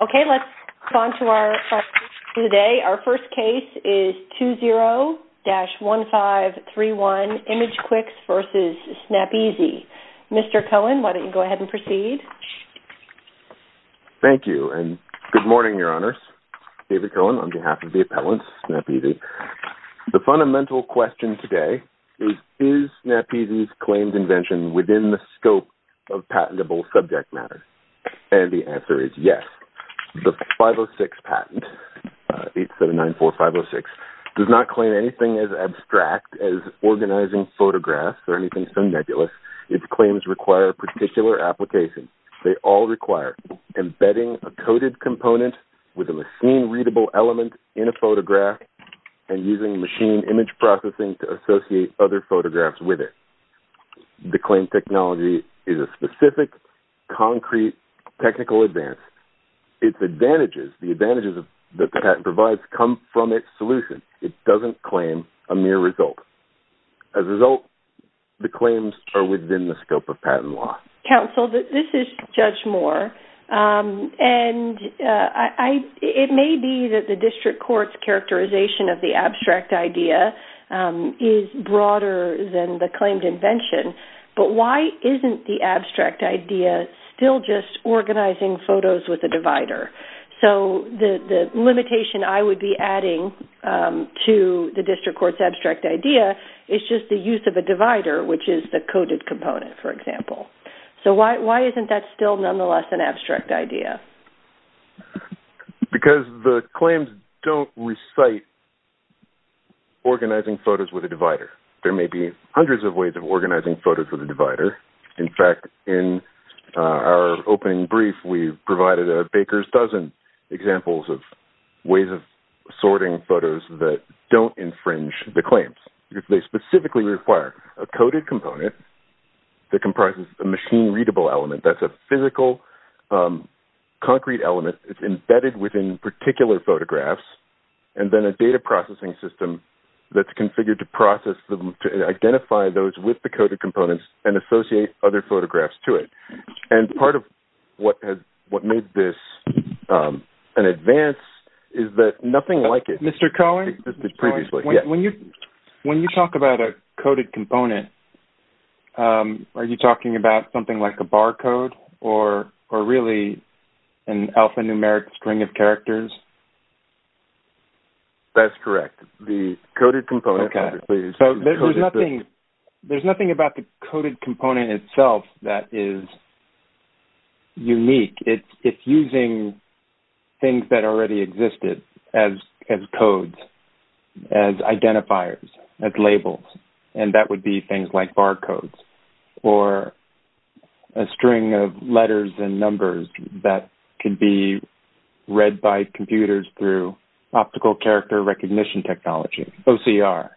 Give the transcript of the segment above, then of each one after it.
Okay, let's move on to our questions today. Our first case is 20-1531, ImageQuix v. Snapizzi. Mr. Cohen, why don't you go ahead and proceed? Thank you, and good morning, Your Honors. David Cohen on behalf of the appellants, Snapizzi. The fundamental question today is, is Snapizzi's claims invention within the scope of patentable subject matter? And the answer is yes. The 506 patent, 8794506, does not claim anything as abstract as organizing photographs or anything so nebulous. Its claims require a particular application. They all require embedding a coded component with a machine-readable element in a photograph and using machine image processing to associate other photographs with it. The claim technology is a specific, concrete, technical advance. Its advantages, the advantages that the patent provides, come from its solution. It doesn't claim a mere result. As a result, the claims are within the scope of patent law. Counsel, this is Judge Moore, and it may be that the district court's characterization of the abstract idea is broader than the claimed invention, but why isn't the abstract idea still just organizing photos with a divider? So the limitation I would be adding to the district court's abstract idea is just the use of a divider, which is the coded component, for example. So why isn't that still nonetheless an abstract idea? Because the claims don't recite organizing photos with a divider. There may be hundreds of ways of organizing photos with a divider. In fact, in our opening brief, we provided a baker's dozen examples of ways of sorting photos that don't infringe the claims. They specifically require a coded component that comprises a machine-readable element. That's a physical, concrete element. It's embedded within particular photographs, and then a data processing system that's configured to process them, to identify those with the coded components and associate other photographs to it. And part of what made this an advance is that nothing like it existed previously. When you talk about a coded component, are you talking about something like a bar code or really an alphanumeric string of characters? That's correct. The coded component, obviously, is coded. There's nothing about the coded component itself that is unique. It's using things that already existed as codes, as identifiers, as labels. And that would be things like bar codes or a string of letters and numbers that can be read by computers through optical character recognition technology, OCR.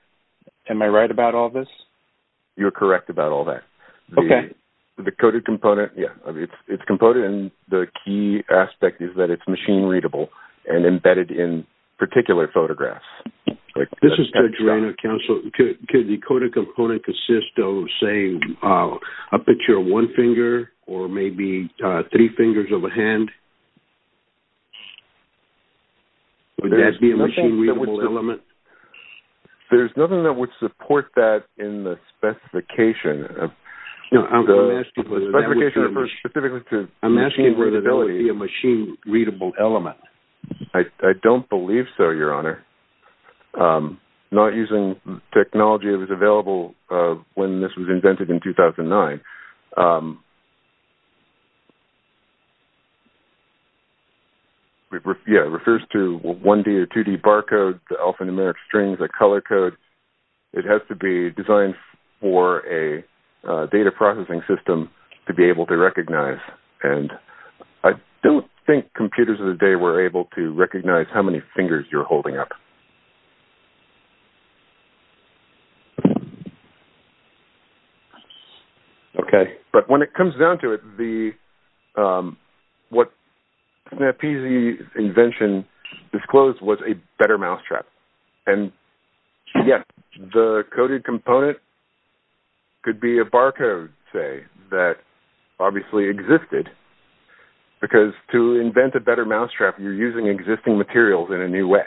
Am I right about all this? You're correct about all that. Okay. The coded component, yeah. It's a component, and the key aspect is that it's machine-readable and embedded in particular photographs. This is Judge Rayner, counsel. Could the coded component consist of, say, a picture of one finger or maybe three fingers of a hand? Would that be a machine-readable element? There's nothing that would support that in the specification. The specification refers specifically to machine-readability. I'm asking whether that would be a machine-readable element. I don't believe so, Your Honor. Not using the technology that was available when this was invented in 2009. Yeah, it refers to a 1D or 2D bar code, alphanumeric strings, a color code. It has to be designed for a data processing system to be able to recognize. And I don't think computers of the day were able to recognize how many fingers you're holding up. Okay. But when it comes down to it, what SnapEasy's invention disclosed was a better mousetrap. And, yes, the coded component could be a bar code, say, that obviously existed. Because to invent a better mousetrap, you're using existing materials in a new way.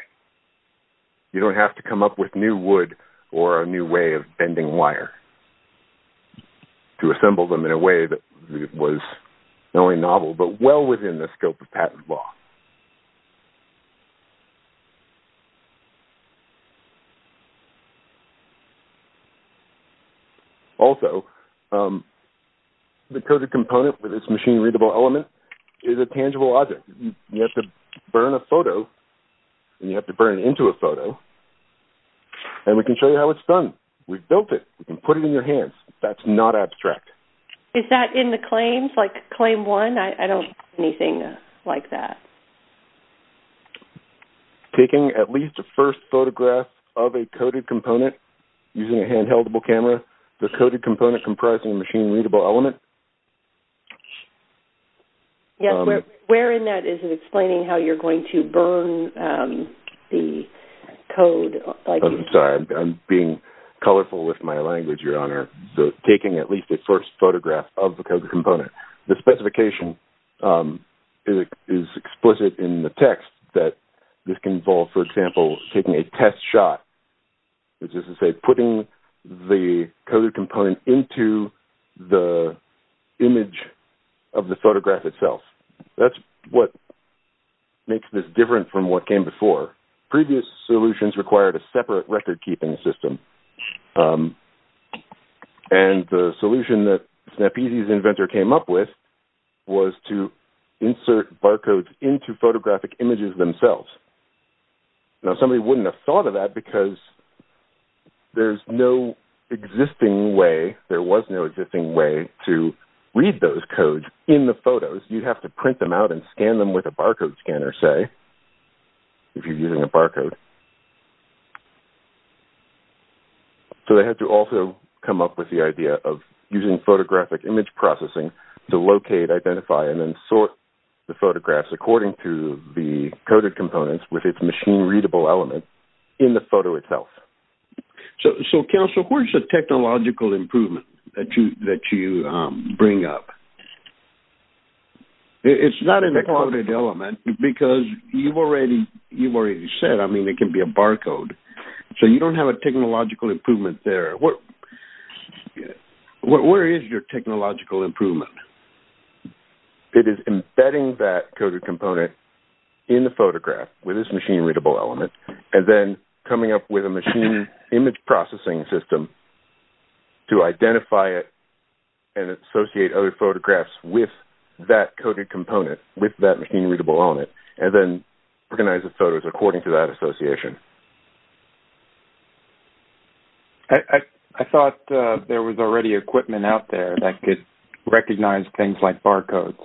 You don't have to come up with new wood or a new way of bending wire to assemble them in a way that was not only novel but well within the scope of patent law. Also, the coded component with this machine-readable element is a tangible object. You have to burn a photo, and you have to burn it into a photo, and we can show you how it's done. We've built it. You can put it in your hands. That's not abstract. Is that in the claims, like claim one? I don't have anything like that. Taking at least a first photograph of a coded component using a handheld-able camera. The coded component comprises a machine-readable element. Yes. Where in that is it explaining how you're going to burn the code? I'm sorry. I'm being colorful with my language, Your Honor. So taking at least a first photograph of the coded component. The specification is explicit in the text that this can involve, for example, taking a test shot, which is to say putting the coded component into the image of the photograph itself. That's what makes this different from what came before. Previous solutions required a separate record-keeping system. And the solution that SnapEasy's inventor came up with was to insert barcodes into photographic images themselves. Now, somebody wouldn't have thought of that because there's no existing way, there was no existing way to read those codes in the photos. You'd have to print them out and scan them with a barcode scanner, say, if you're using a barcode. So they had to also come up with the idea of using photographic image processing to locate, identify, and then sort the photographs according to the coded components with its machine-readable element in the photo itself. So, Counselor, where's the technological improvement that you bring up? It's not in the coded element because you've already said, I mean, it can be a barcode. So you don't have a technological improvement there. Where is your technological improvement? It is embedding that coded component in the photograph with its machine-readable element and then coming up with a machine image processing system to identify it and associate other photographs with that coded component, with that machine-readable element, and then organize the photos according to that association. I thought there was already equipment out there that could recognize things like barcodes,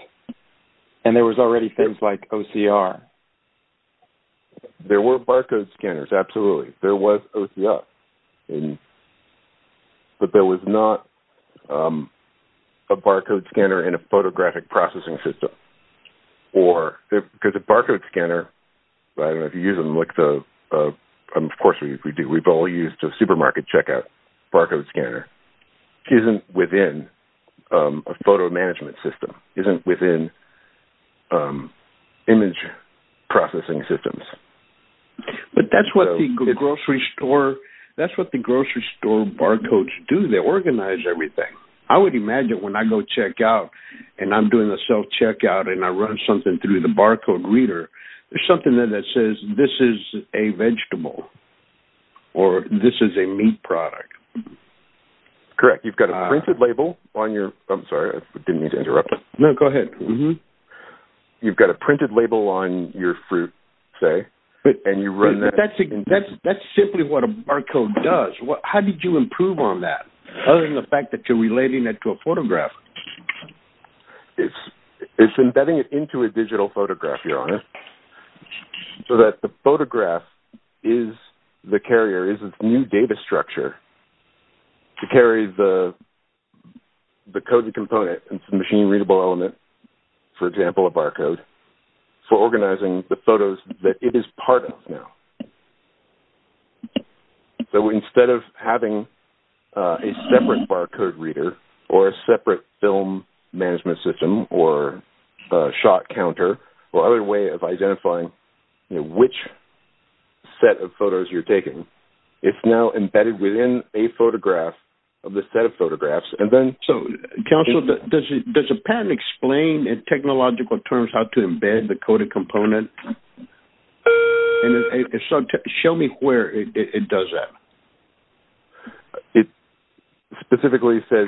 and there was already things like OCR. There were barcode scanners, absolutely. There was OCR, but there was not a barcode scanner in a photographic processing system. Because a barcode scanner, I don't know if you use them, of course we do. We've all used a supermarket checkout barcode scanner. It isn't within a photo management system. It isn't within image processing systems. But that's what the grocery store barcodes do. They organize everything. I would imagine when I go checkout and I'm doing a self-checkout and I run something through the barcode reader, there's something there that says, this is a vegetable or this is a meat product. Correct. You've got a printed label on your fruit, say, and you run that. That's simply what a barcode does. How did you improve on that? Other than the fact that you're relating it to a photograph. It's embedding it into a digital photograph, Your Honor, so that the photograph is the carrier, is a new data structure to carry the code and component and some machine-readable element, for example, a barcode, for organizing the photos that it is part of now. So instead of having a separate barcode reader or a separate film management system or shot counter or other way of identifying which set of photos you're taking, it's now embedded within a photograph of the set of photographs. Counsel, does a patent explain in technological terms how to embed the coded component and show me where it does that. It specifically says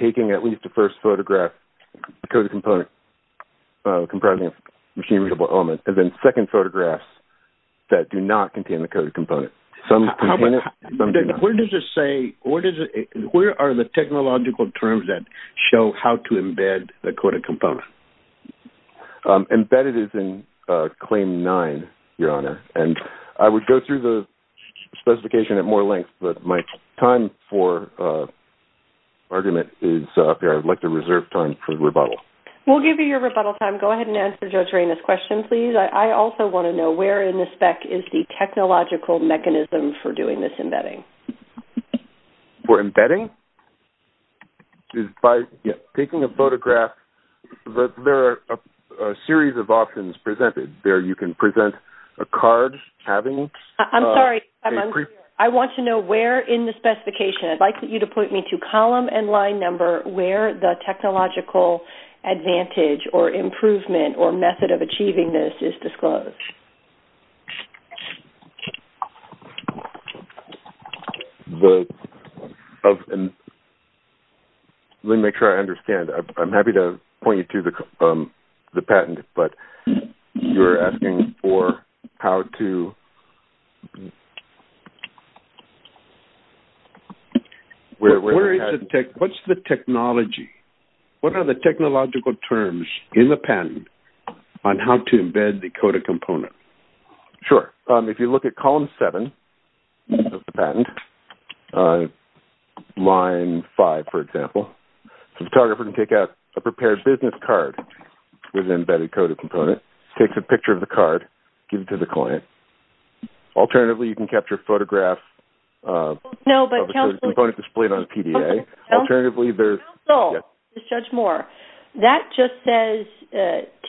taking at least the first photograph, the coded component comprising a machine-readable element, and then second photographs that do not contain the coded component. Where are the technological terms that show how to embed the coded component? Embedded is in Claim 9, Your Honor, and I would go through the specification at more length, but my time for argument is up here. I'd like to reserve time for rebuttal. We'll give you your rebuttal time. Go ahead and answer Judge Raina's question, please. I also want to know where in the spec is the technological mechanism for doing this embedding. For embedding? By taking a photograph, there are a series of options presented. There you can present a card having... I'm sorry. I'm unclear. I want to know where in the specification. I'd like you to point me to column and line number where the technological advantage or improvement or method of achieving this is disclosed. Let me make sure I understand. I'm happy to point you to the patent, but you're asking for how to... What's the technology? What are the technological terms in the patent on how to embed the coded component? Sure. If you look at column seven of the patent, line five, for example, the photographer can take out a prepared business card with an embedded coded component, takes a picture of the card, gives it to the client. Alternatively, you can capture a photograph of a coded component displayed on a PDA. Alternatively, there's... Counsel, this is Judge Moore. That just says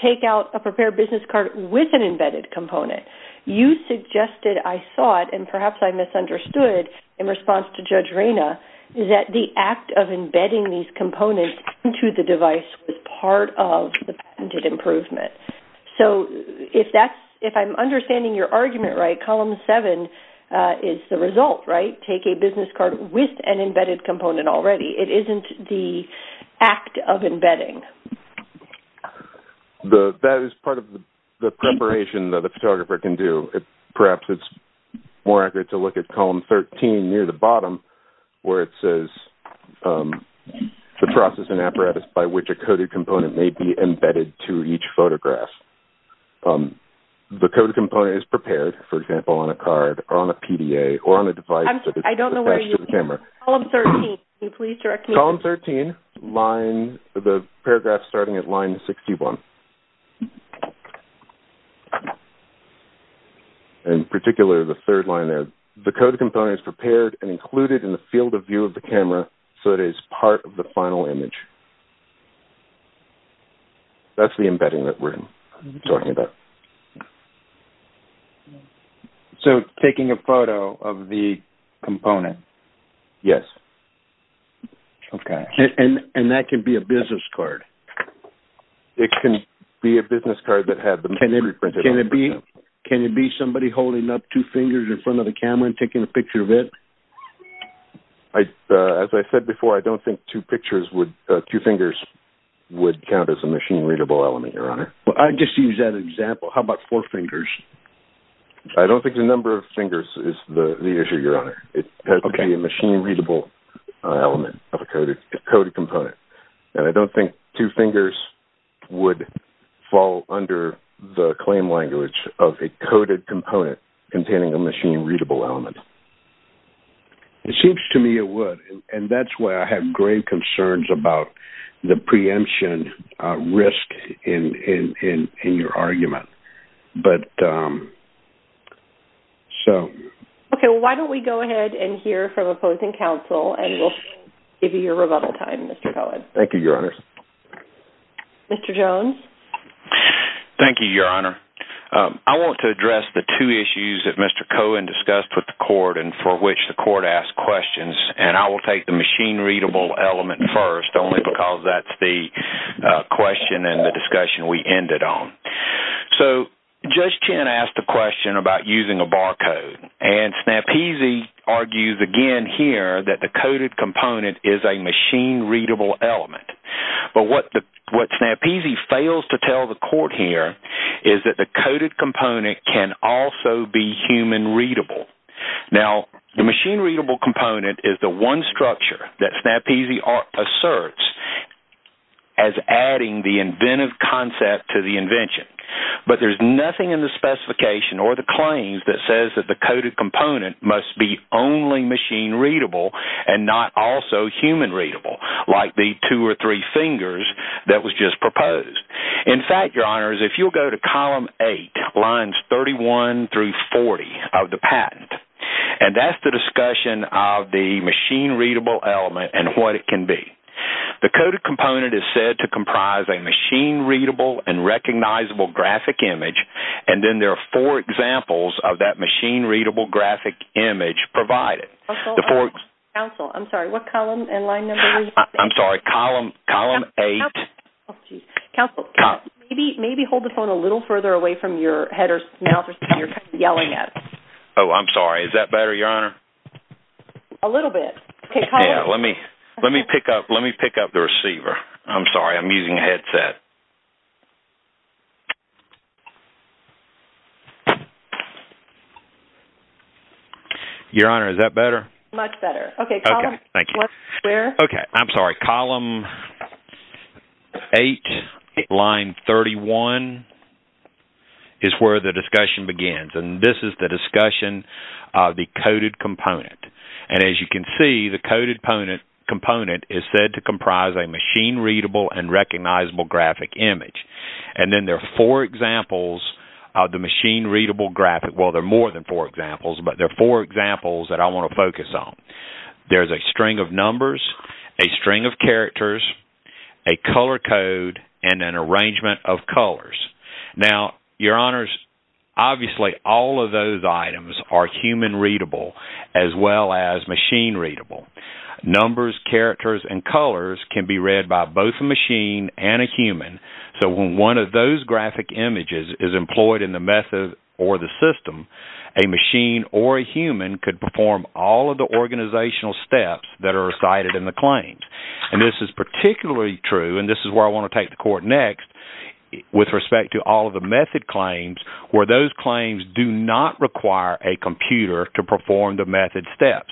take out a prepared business card with an embedded component. You suggested, I thought, and perhaps I misunderstood in response to Judge Reyna, that the act of embedding these components into the device was part of the patented improvement. If I'm understanding your argument right, column seven is the result, right? Take a business card with an embedded component already. It isn't the act of embedding. That is part of the preparation that a photographer can do. Perhaps it's more accurate to look at column 13 near the bottom where it says the processing apparatus by which a coded component may be embedded to each photograph. The coded component is prepared, for example, on a card or on a PDA or on a device that is attached to the camera. I don't know where you... Column 13, can you please direct me... Column 13, the paragraph starting at line 61. In particular, the third line there. The coded component is prepared and included in the field of view of the camera so it is part of the final image. That's the embedding that we're talking about. So, taking a photo of the component? Yes. Okay. And that can be a business card? It can be a business card that has... Can it be somebody holding up two fingers in front of the camera and taking a picture of it? As I said before, I don't think two fingers would count as a machine-readable element, Your Honor. I'll just use that example. How about four fingers? I don't think the number of fingers is the issue, Your Honor. It has to be a machine-readable element of a coded component. And I don't think two fingers would fall under the claim language of a coded component containing a machine-readable element. It seems to me it would, and that's why I have grave concerns about the preemption risk in your argument. But, so... Okay, well, why don't we go ahead and hear from opposing counsel and we'll give you your rebuttal time, Mr. Cohen. Thank you, Your Honor. Mr. Jones? Thank you, Your Honor. I want to address the two issues that Mr. Cohen discussed with the court and for which the court asked questions. And I will take the machine-readable element first only because that's the question and the discussion we ended on. So, Judge Chin asked the question about using a barcode. And Snapezi argues again here that the coded component is a machine-readable element. But what Snapezi fails to tell the court here is that the coded component can also be human-readable. Now, the machine-readable component is the one structure that Snapezi asserts as adding the inventive concept to the invention. But there's nothing in the specification or the claims that says that the coded component must be only machine-readable and not also human-readable, like the two or three fingers that was just proposed. In fact, Your Honor, if you'll go to column 8, lines 31 through 40 of the patent, and that's the discussion of the machine-readable element and what it can be. The coded component is said to comprise a machine-readable and recognizable graphic image. And then there are four examples of that machine-readable graphic image provided. Counsel, I'm sorry, what column and line number? I'm sorry, column 8. Counsel, maybe hold the phone a little further away from your head or mouth or something you're yelling at. Oh, I'm sorry. Is that better, Your Honor? A little bit. Yeah, let me pick up the receiver. I'm sorry, I'm using a headset. Your Honor, is that better? Much better. Okay, column 1 square. Okay, I'm sorry, column 8, line 31 is where the discussion begins. And this is the discussion of the coded component. And as you can see, the coded component is said to comprise a machine-readable and recognizable graphic image. And then there are four examples of the machine-readable graphic. Well, there are more than four examples, but there are four examples that I want to focus on. There's a string of numbers, a string of characters, a color code, and an arrangement of colors. Now, Your Honors, obviously all of those items are human-readable as well as machine-readable. Numbers, characters, and colors can be read by both a machine and a human. So when one of those graphic images is employed in the method or the system, a machine or a human could perform all of the organizational steps that are recited in the claims. And this is particularly true, and this is where I want to take the Court next, with respect to all of the method claims, where those claims do not require a computer to perform the method steps.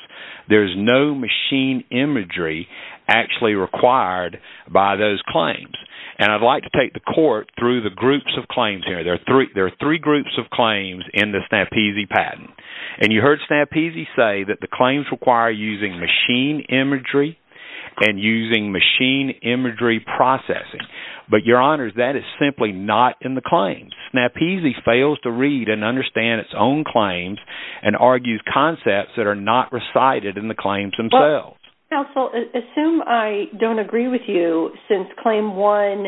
There's no machine imagery actually required by those claims. And I'd like to take the Court through the groups of claims here. There are three groups of claims in the SNAP-EASY patent. And you heard SNAP-EASY say that the claims require using machine imagery and using machine imagery processing. But, Your Honors, that is simply not in the claims. SNAP-EASY fails to read and understand its own claims and argues concepts that are not recited in the claims themselves. Counsel, assume I don't agree with you since Claim 1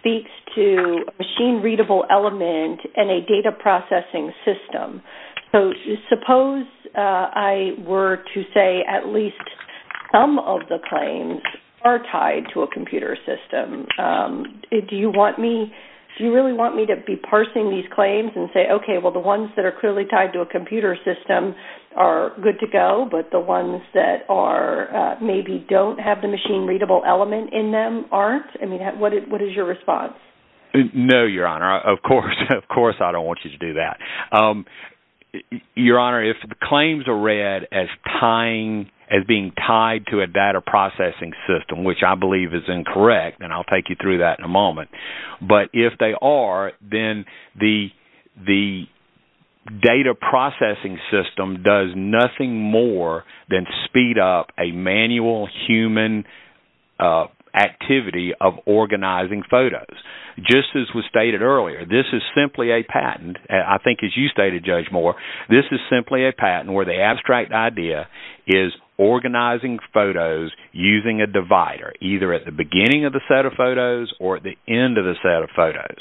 speaks to a machine-readable element and a data processing system. So suppose I were to say at least some of the claims are tied to a computer system. Do you really want me to be parsing these claims and say, okay, well the ones that are clearly tied to a computer system are good to go, but the ones that maybe don't have the machine-readable element in them aren't? What is your response? No, Your Honor. Of course I don't want you to do that. Your Honor, if the claims are read as being tied to a data processing system, which I believe is incorrect, and I'll take you through that in a moment, but if they are, then the data processing system does nothing more than speed up a manual human activity of organizing photos. Just as was stated earlier, this is simply a patent. I think as you stated, Judge Moore, this is simply a patent where the abstract idea is organizing photos using a divider, either at the beginning of the set of photos or at the end of the set of photos.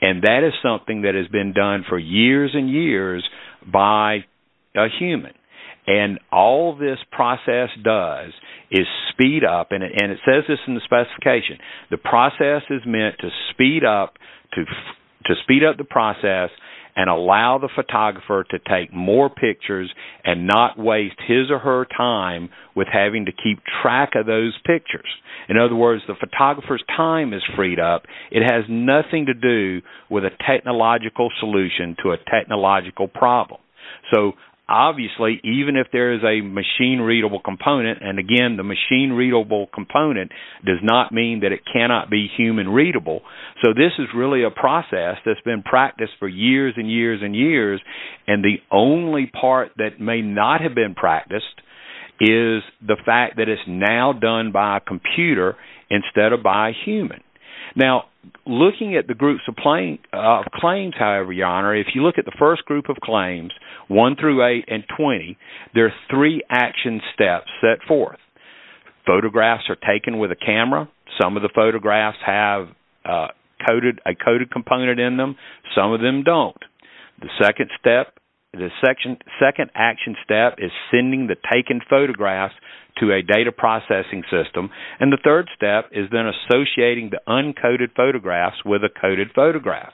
And that is something that has been done for years and years by a human. And all this process does is speed up, and it says this in the specification, the process is meant to speed up the process and allow the photographer to take more pictures and not waste his or her time with having to keep track of those pictures. In other words, the photographer's time is freed up. It has nothing to do with a technological solution to a technological problem. So obviously, even if there is a machine-readable component, and again, the machine-readable component does not mean that it cannot be human-readable, so this is really a process that's been practiced for years and years and years, and the only part that may not have been practiced is the fact that it's now done by a computer instead of by a human. Now, looking at the groups of claims, however, Your Honor, if you look at the first group of claims, 1 through 8 and 20, there are three action steps set forth. Photographs are taken with a camera. Some of the photographs have a coded component in them. Some of them don't. The second action step is sending the taken photographs to a data processing system, and the third step is then associating the uncoded photographs with a coded photograph.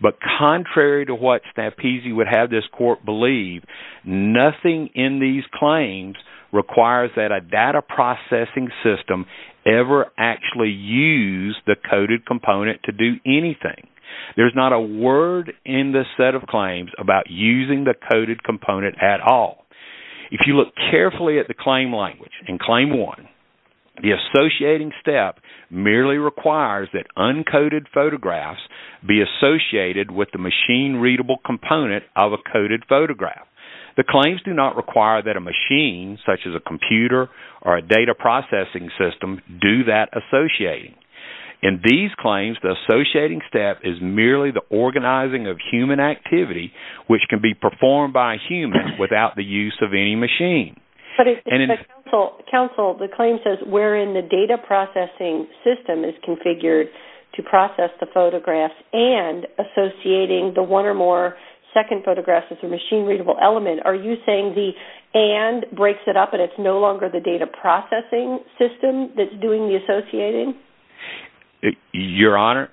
But contrary to what Stampisi would have this court believe, nothing in these claims requires that a data processing system ever actually use the coded component to do anything. There's not a word in this set of claims about using the coded component at all. If you look carefully at the claim language in Claim 1, the associating step merely requires that uncoded photographs be associated with the machine-readable component of a coded photograph. The claims do not require that a machine, such as a computer or a data processing system, do that associating. In these claims, the associating step is merely the organizing of human activity, which can be performed by a human without the use of any machine. But if the claim says wherein the data processing system is configured to process the photographs and associating the one or more second photographs with a machine-readable element, are you saying the and breaks it up and it's no longer the data processing system that's doing the associating? Your Honor,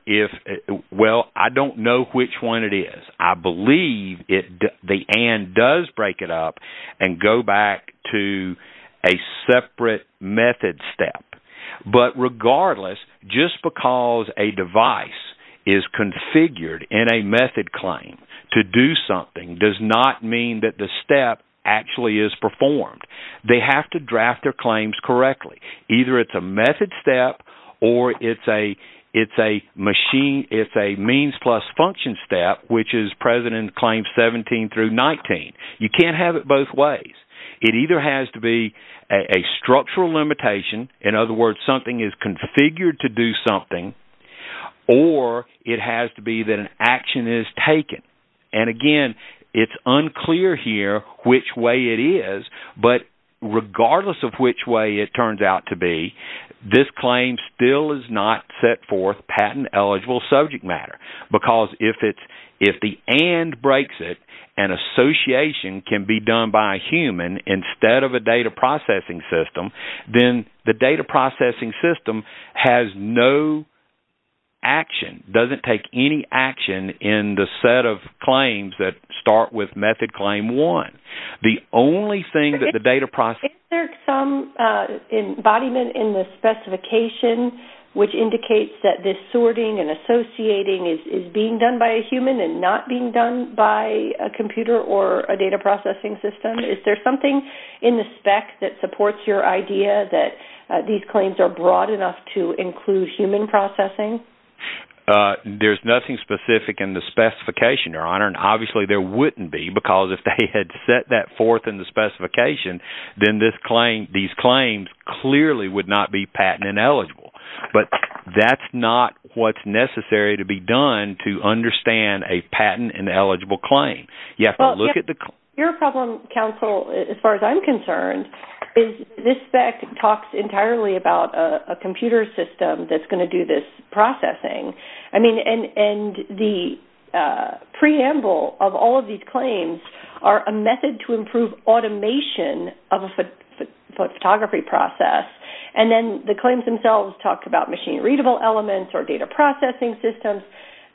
well, I don't know which one it is. I believe the and does break it up and go back to a separate method step. But regardless, just because a device is configured in a method claim to do something does not mean that the step actually is performed. They have to draft their claims correctly. Either it's a method step or it's a means plus function step, which is present in Claims 17 through 19. You can't have it both ways. It either has to be a structural limitation, in other words, something is configured to do something, or it has to be that an action is taken. And again, it's unclear here which way it is, but regardless of which way it turns out to be, this claim still is not set forth patent-eligible subject matter. Because if the and breaks it and association can be done by a human instead of a data processing system, then the data processing system has no action, doesn't take any action in the set of claims that start with Method Claim 1. The only thing that the data processing system... Is there some embodiment in the specification which indicates that this sorting and associating is being done by a human and not being done by a computer or a data processing system? Is there something in the spec that supports your idea that these claims are broad enough to include human processing? There's nothing specific in the specification, Your Honor, and obviously there wouldn't be because if they had set that forth in the specification, then these claims clearly would not be patent-ineligible. But that's not what's necessary to be done to understand a patent-ineligible claim. You have to look at the... Your problem, counsel, as far as I'm concerned, is this spec talks entirely about a computer system that's going to do this processing. And the preamble of all of these claims are a method to improve automation of a photography process. And then the claims themselves talk about machine-readable elements or data processing systems.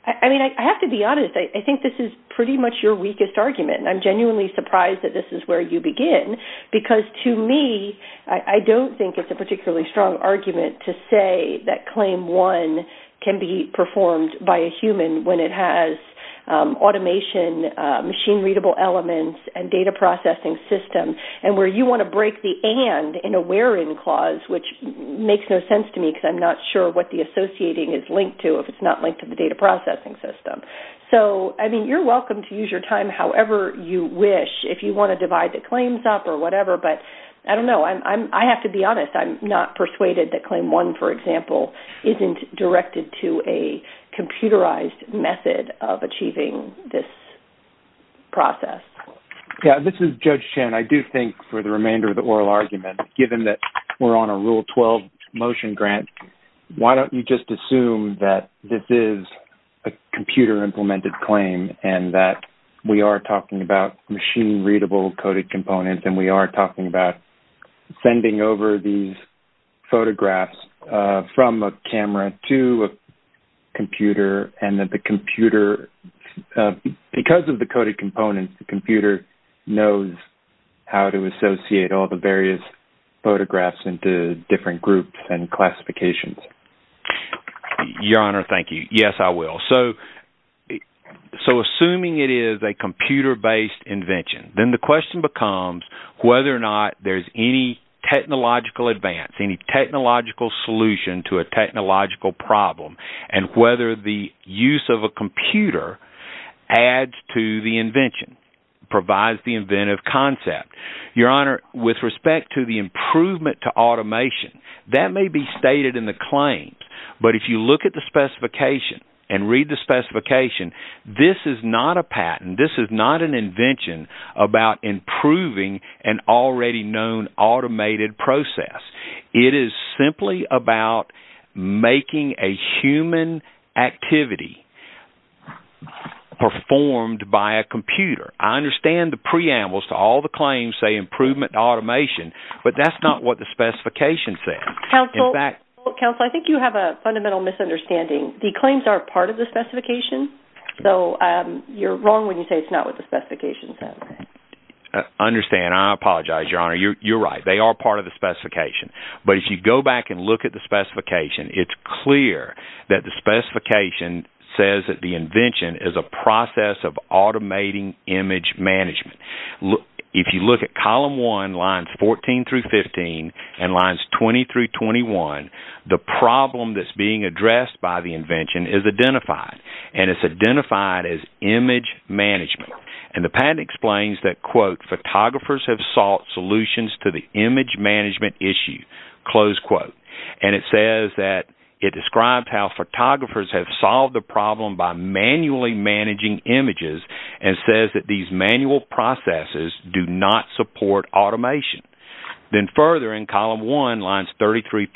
I have to be honest. I think this is pretty much your weakest argument. I'm genuinely surprised that this is where you begin because, to me, I don't think it's a particularly strong argument to say that Claim 1 can be performed by a human when it has automation, machine-readable elements, and data processing systems, and where you want to break the and in a where-in clause, which makes no sense to me because I'm not sure what the associating is linked to if it's not linked to the data processing system. So, I mean, you're welcome to use your time however you wish, if you want to divide the claims up or whatever. But I don't know. I have to be honest. I'm not persuaded that Claim 1, for example, isn't directed to a computerized method of achieving this process. Yeah, this is Judge Chen. I do think for the remainder of the oral argument, given that we're on a Rule 12 motion grant, why don't you just assume that this is a computer-implemented claim and that we are talking about machine-readable coded components and we are talking about sending over these photographs from a camera to a computer and that the computer, because of the coded components, the computer knows how to associate all the various photographs into different groups and classifications? Your Honor, thank you. Yes, I will. So, assuming it is a computer-based invention, then the question becomes whether or not there's any technological advance, any technological solution to a technological problem, and whether the use of a computer adds to the invention, provides the inventive concept. Your Honor, with respect to the improvement to automation, that may be stated in the claims, but if you look at the specification and read the specification, this is not a patent. This is not an invention about improving an already-known automated process. It is simply about making a human activity performed by a computer. I understand the preambles to all the claims say improvement to automation, but that's not what the specification says. Counsel, I think you have a fundamental misunderstanding. The claims are part of the specification, so you're wrong when you say it's not what the specification says. I understand. I apologize, Your Honor. You're right. They are part of the specification. But if you go back and look at the specification, it's clear that the specification says that the invention is a process of automating image management. If you look at Column 1, Lines 14 through 15, and Lines 20 through 21, the problem that's being addressed by the invention is identified, and it's identified as image management. And the patent explains that, quote, photographers have sought solutions to the image management issue, close quote. And it says that it describes how photographers have solved the problem by manually managing images and says that these manual processes do not support automation. Then further, in Column 1, Lines 33-36,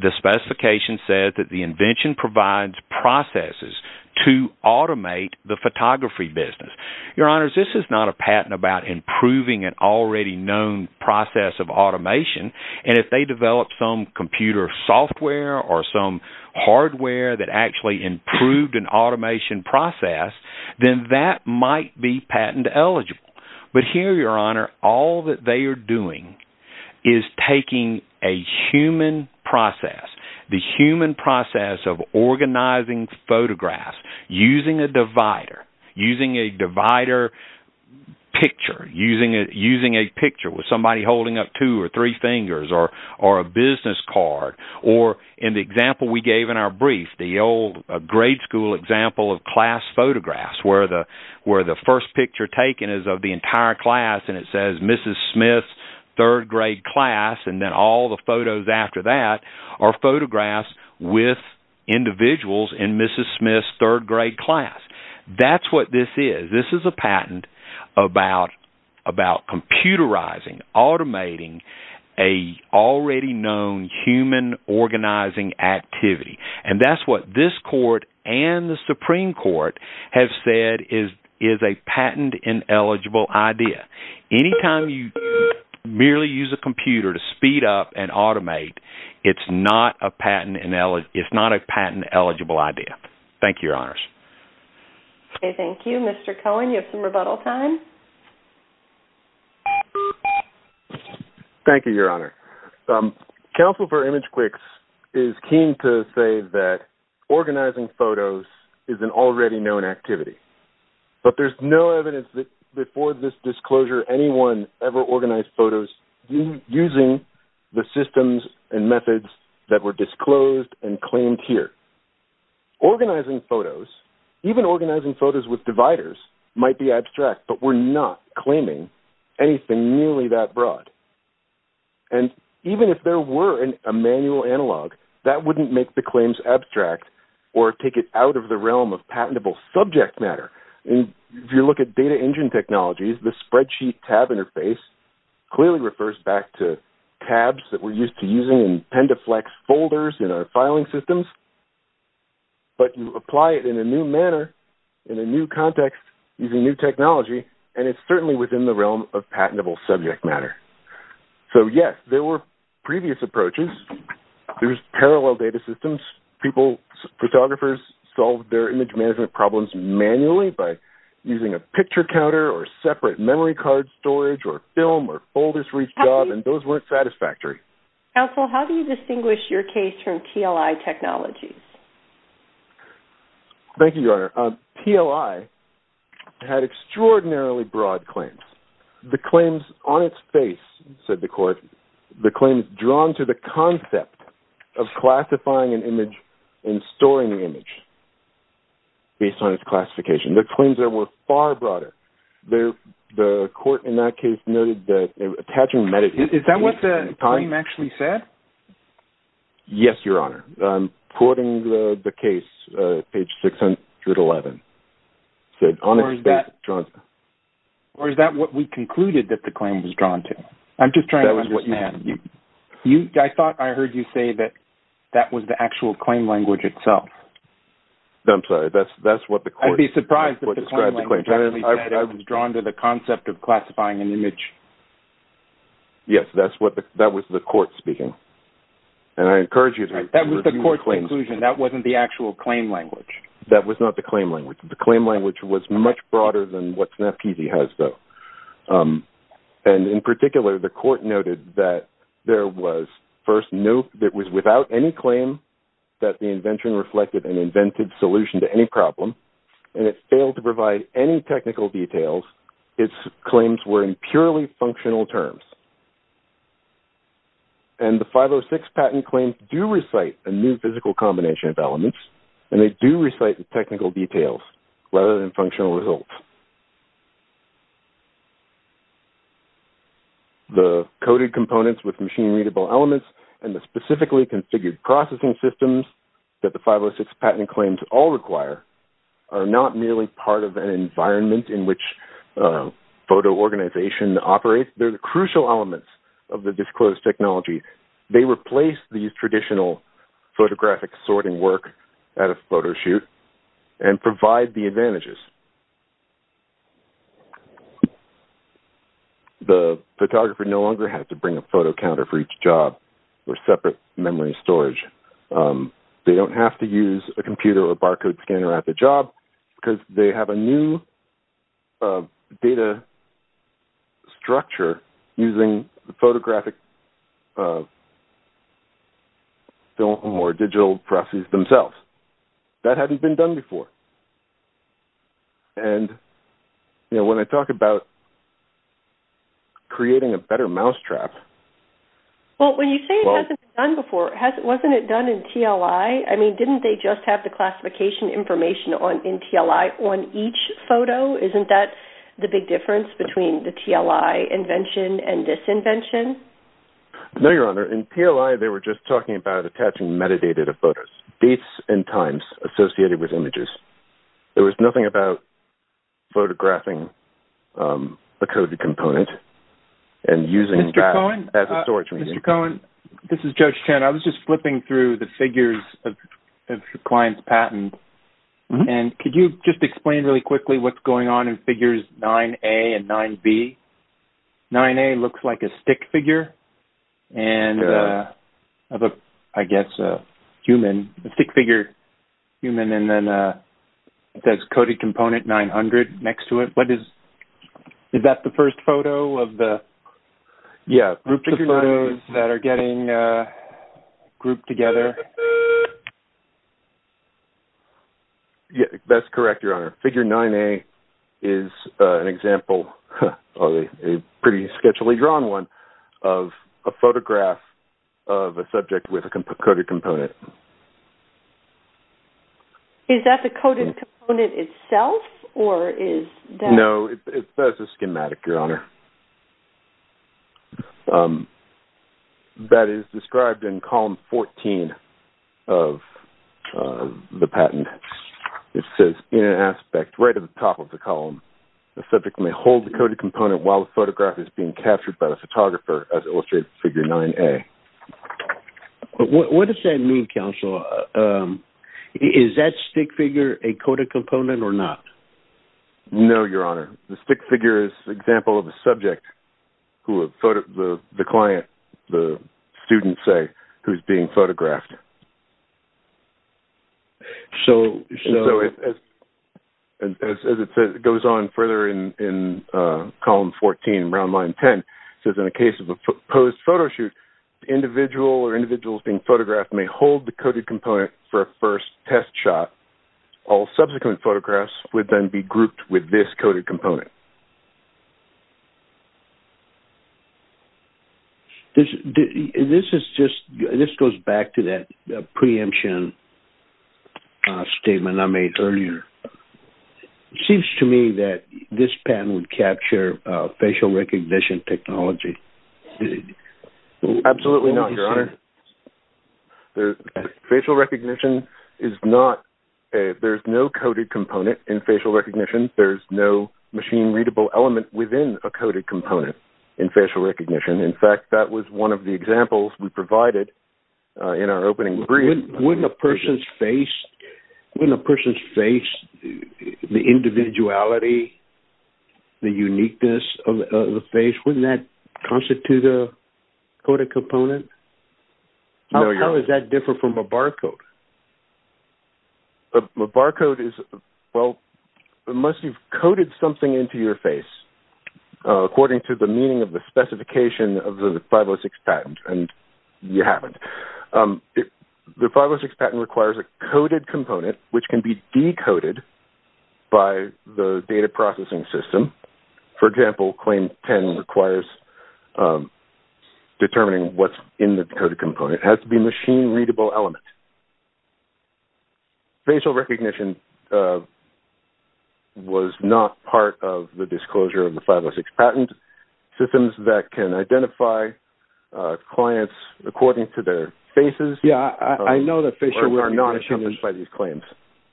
the specification says that the invention provides processes to automate the photography business. Your Honor, this is not a patent about improving an already known process of automation, and if they develop some computer software or some hardware that actually improved an automation process, then that might be patent eligible. But here, Your Honor, all that they are doing is taking a human process, the human process of organizing photographs, using a divider, using a divider picture, using a picture with somebody holding up two or three fingers or a business card, or in the example we gave in our brief, the old grade school example of class photographs where the first picture taken is of the entire class and it says Mrs. Smith, third grade class, and then all the photos after that are photographs with individuals in Mrs. Smith's third grade class. That's what this is. This is a patent about computerizing, automating a already known human organizing activity. And that's what this court and the Supreme Court have said is a patent ineligible idea. Anytime you merely use a computer to speed up and automate, it's not a patent eligible idea. Thank you, Your Honors. Okay, thank you. Mr. Cohen, you have some rebuttal time. Thank you, Your Honor. Counsel for ImageQuicks is keen to say that organizing photos is an already known activity, but there's no evidence that before this disclosure anyone ever organized photos using the systems and methods that were disclosed and claimed here. Organizing photos, even organizing photos with dividers, might be abstract, but we're not claiming anything nearly that broad. And even if there were a manual analog, that wouldn't make the claims abstract or take it out of the realm of patentable subject matter. If you look at data engine technologies, the spreadsheet tab interface clearly refers back to tabs that we're used to using in pendaflex folders in our filing systems, but you apply it in a new manner, in a new context, using new technology, and it's certainly within the realm of patentable subject matter. So, yes, there were previous approaches. There's parallel data systems. Photographers solved their image management problems manually by using a picture counter or separate memory card storage or film or folders for each job, and those weren't satisfactory. Counsel, how do you distinguish your case from TLI technologies? Thank you, Your Honor. TLI had extraordinarily broad claims. The claims on its face, said the court, the claims drawn to the concept of classifying an image and storing the image based on its classification. The claims there were far broader. The court in that case noted that attaching metadata... Is that what the claim actually said? Yes, Your Honor. I'm quoting the case, page 611. Or is that what we concluded that the claim was drawn to? I'm just trying to understand. That was what you had. I thought I heard you say that that was the actual claim language itself. I'm sorry. That's what the court... I'd be surprised that the claim language actually said it was drawn to the concept of classifying an image. Yes, that was the court speaking, and I encourage you to... That was the court's conclusion. That wasn't the actual claim language. That was not the claim language. The claim language was much broader than what SNAP TV has, though, and in particular, the court noted that there was first no... It was without any claim that the invention reflected an invented solution to any problem, and it failed to provide any technical details. Its claims were in purely functional terms, and the 506 patent claims do recite a new physical combination of elements, and they do recite the technical details rather than functional results. The coded components with machine-readable elements and the specifically configured processing systems that the 506 patent claims all require are not merely part of an environment in which photo organization operates. They're the crucial elements of the disclosed technology. They replace these traditional photographic sorting work at a photo shoot and provide the advantages. The photographer no longer has to bring a photo counter for each job or separate memory storage. They don't have to use a computer or barcode scanner at the job because they have a new data structure using the photographic film or digital processes themselves. That hadn't been done before, and when I talk about creating a better mousetrap... Wasn't it done in TLI? I mean, didn't they just have the classification information in TLI on each photo? Isn't that the big difference between the TLI invention and this invention? No, Your Honor. In TLI, they were just talking about attaching metadata to photos, dates and times associated with images. There was nothing about photographing a coded component and using that as a storage medium. Mr. Cohen, this is Judge Chen. I was just flipping through the figures of your client's patent, and could you just explain really quickly what's going on in figures 9A and 9B? 9A looks like a stick figure and, I guess, a human. A stick figure, human, and then it says coded component 900 next to it. Is that the first photo of the... grouped together? That's correct, Your Honor. Figure 9A is an example, a pretty sketchily drawn one, of a photograph of a subject with a coded component. Is that the coded component itself, or is that... No, that's a schematic, Your Honor. That is described in column 14 of the patent. It says, in an aspect right at the top of the column, the subject may hold the coded component while the photograph is being captured by the photographer, as illustrated in figure 9A. What does that mean, counsel? Is that stick figure a coded component or not? No, Your Honor. The stick figure is an example of a subject who the client, the student, say, who's being photographed. As it goes on further in column 14, round line 10, it says, in a case of a posed photo shoot, the individual or individuals being photographed may hold the coded component for a first test shot. All subsequent photographs would then be grouped with this coded component. This is just... This goes back to that preemption statement I made earlier. It seems to me that this patent would capture facial recognition technology. Absolutely not, Your Honor. Facial recognition is not... There's no coded component in facial recognition. There's no machine-readable element within a coded component in facial recognition. In fact, that was one of the examples we provided in our opening brief. Wouldn't a person's face... Wouldn't a person's face, the individuality, the uniqueness of the face, wouldn't that constitute a coded component? No, Your Honor. How does that differ from a barcode? A barcode is... Well, unless you've coded something into your face according to the meaning of the specification of the 506 patent, and you haven't. The 506 patent requires a coded component which can be decoded by the data processing system. For example, claim 10 requires determining what's in the coded component. It has to be a machine-readable element. Facial recognition was not part of the disclosure of the 506 patent. Systems that can identify clients according to their faces... Yeah, I know that facial recognition... ...are not encompassed by these claims.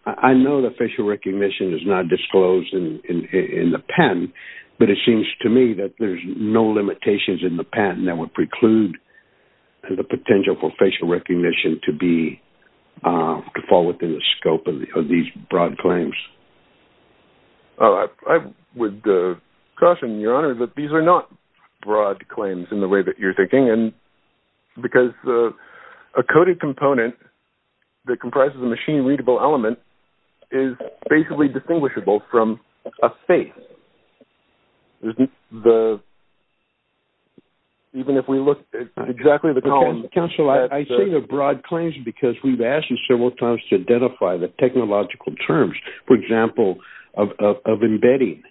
I know that facial recognition is not disclosed in the patent, but it seems to me that there's no limitations in the patent that would preclude the potential for facial recognition to be... to fall within the scope of these broad claims. I would caution, Your Honor, that these are not broad claims in the way that you're thinking, because a coded component that comprises a machine-readable element is basically distinguishable from a face. Even if we look at exactly the columns... Counsel, I say they're broad claims because we've asked you several times to identify the technological terms, for example, of embedding.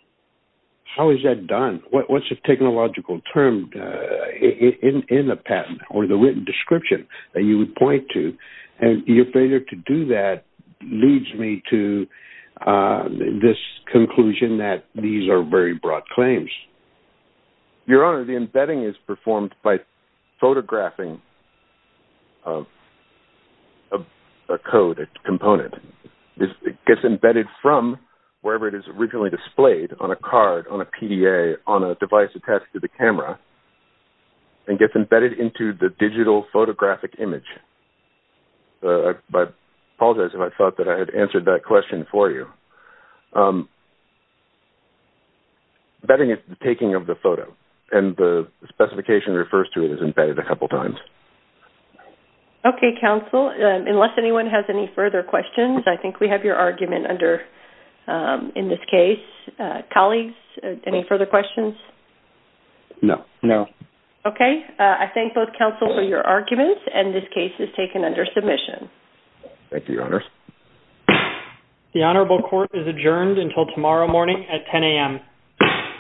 How is that done? What's the technological term in the patent or the written description that you would point to? And your failure to do that leads me to this conclusion that these are very broad claims. Your Honor, the embedding is performed by photographing a code, a component. It gets embedded from wherever it is originally displayed, on a card, on a PDA, on a device attached to the camera, and gets embedded into the digital photographic image. I apologize if I thought that I had answered that question for you. Embedding is the taking of the photo, and the specification that refers to it is embedded a couple times. Okay, Counsel. Unless anyone has any further questions, I think we have your argument in this case. Colleagues, any further questions? No. Okay. I thank both Counsel for your arguments, and this case is taken under submission. Thank you, Your Honor. The Honorable Court is adjourned until tomorrow morning at 10 a.m.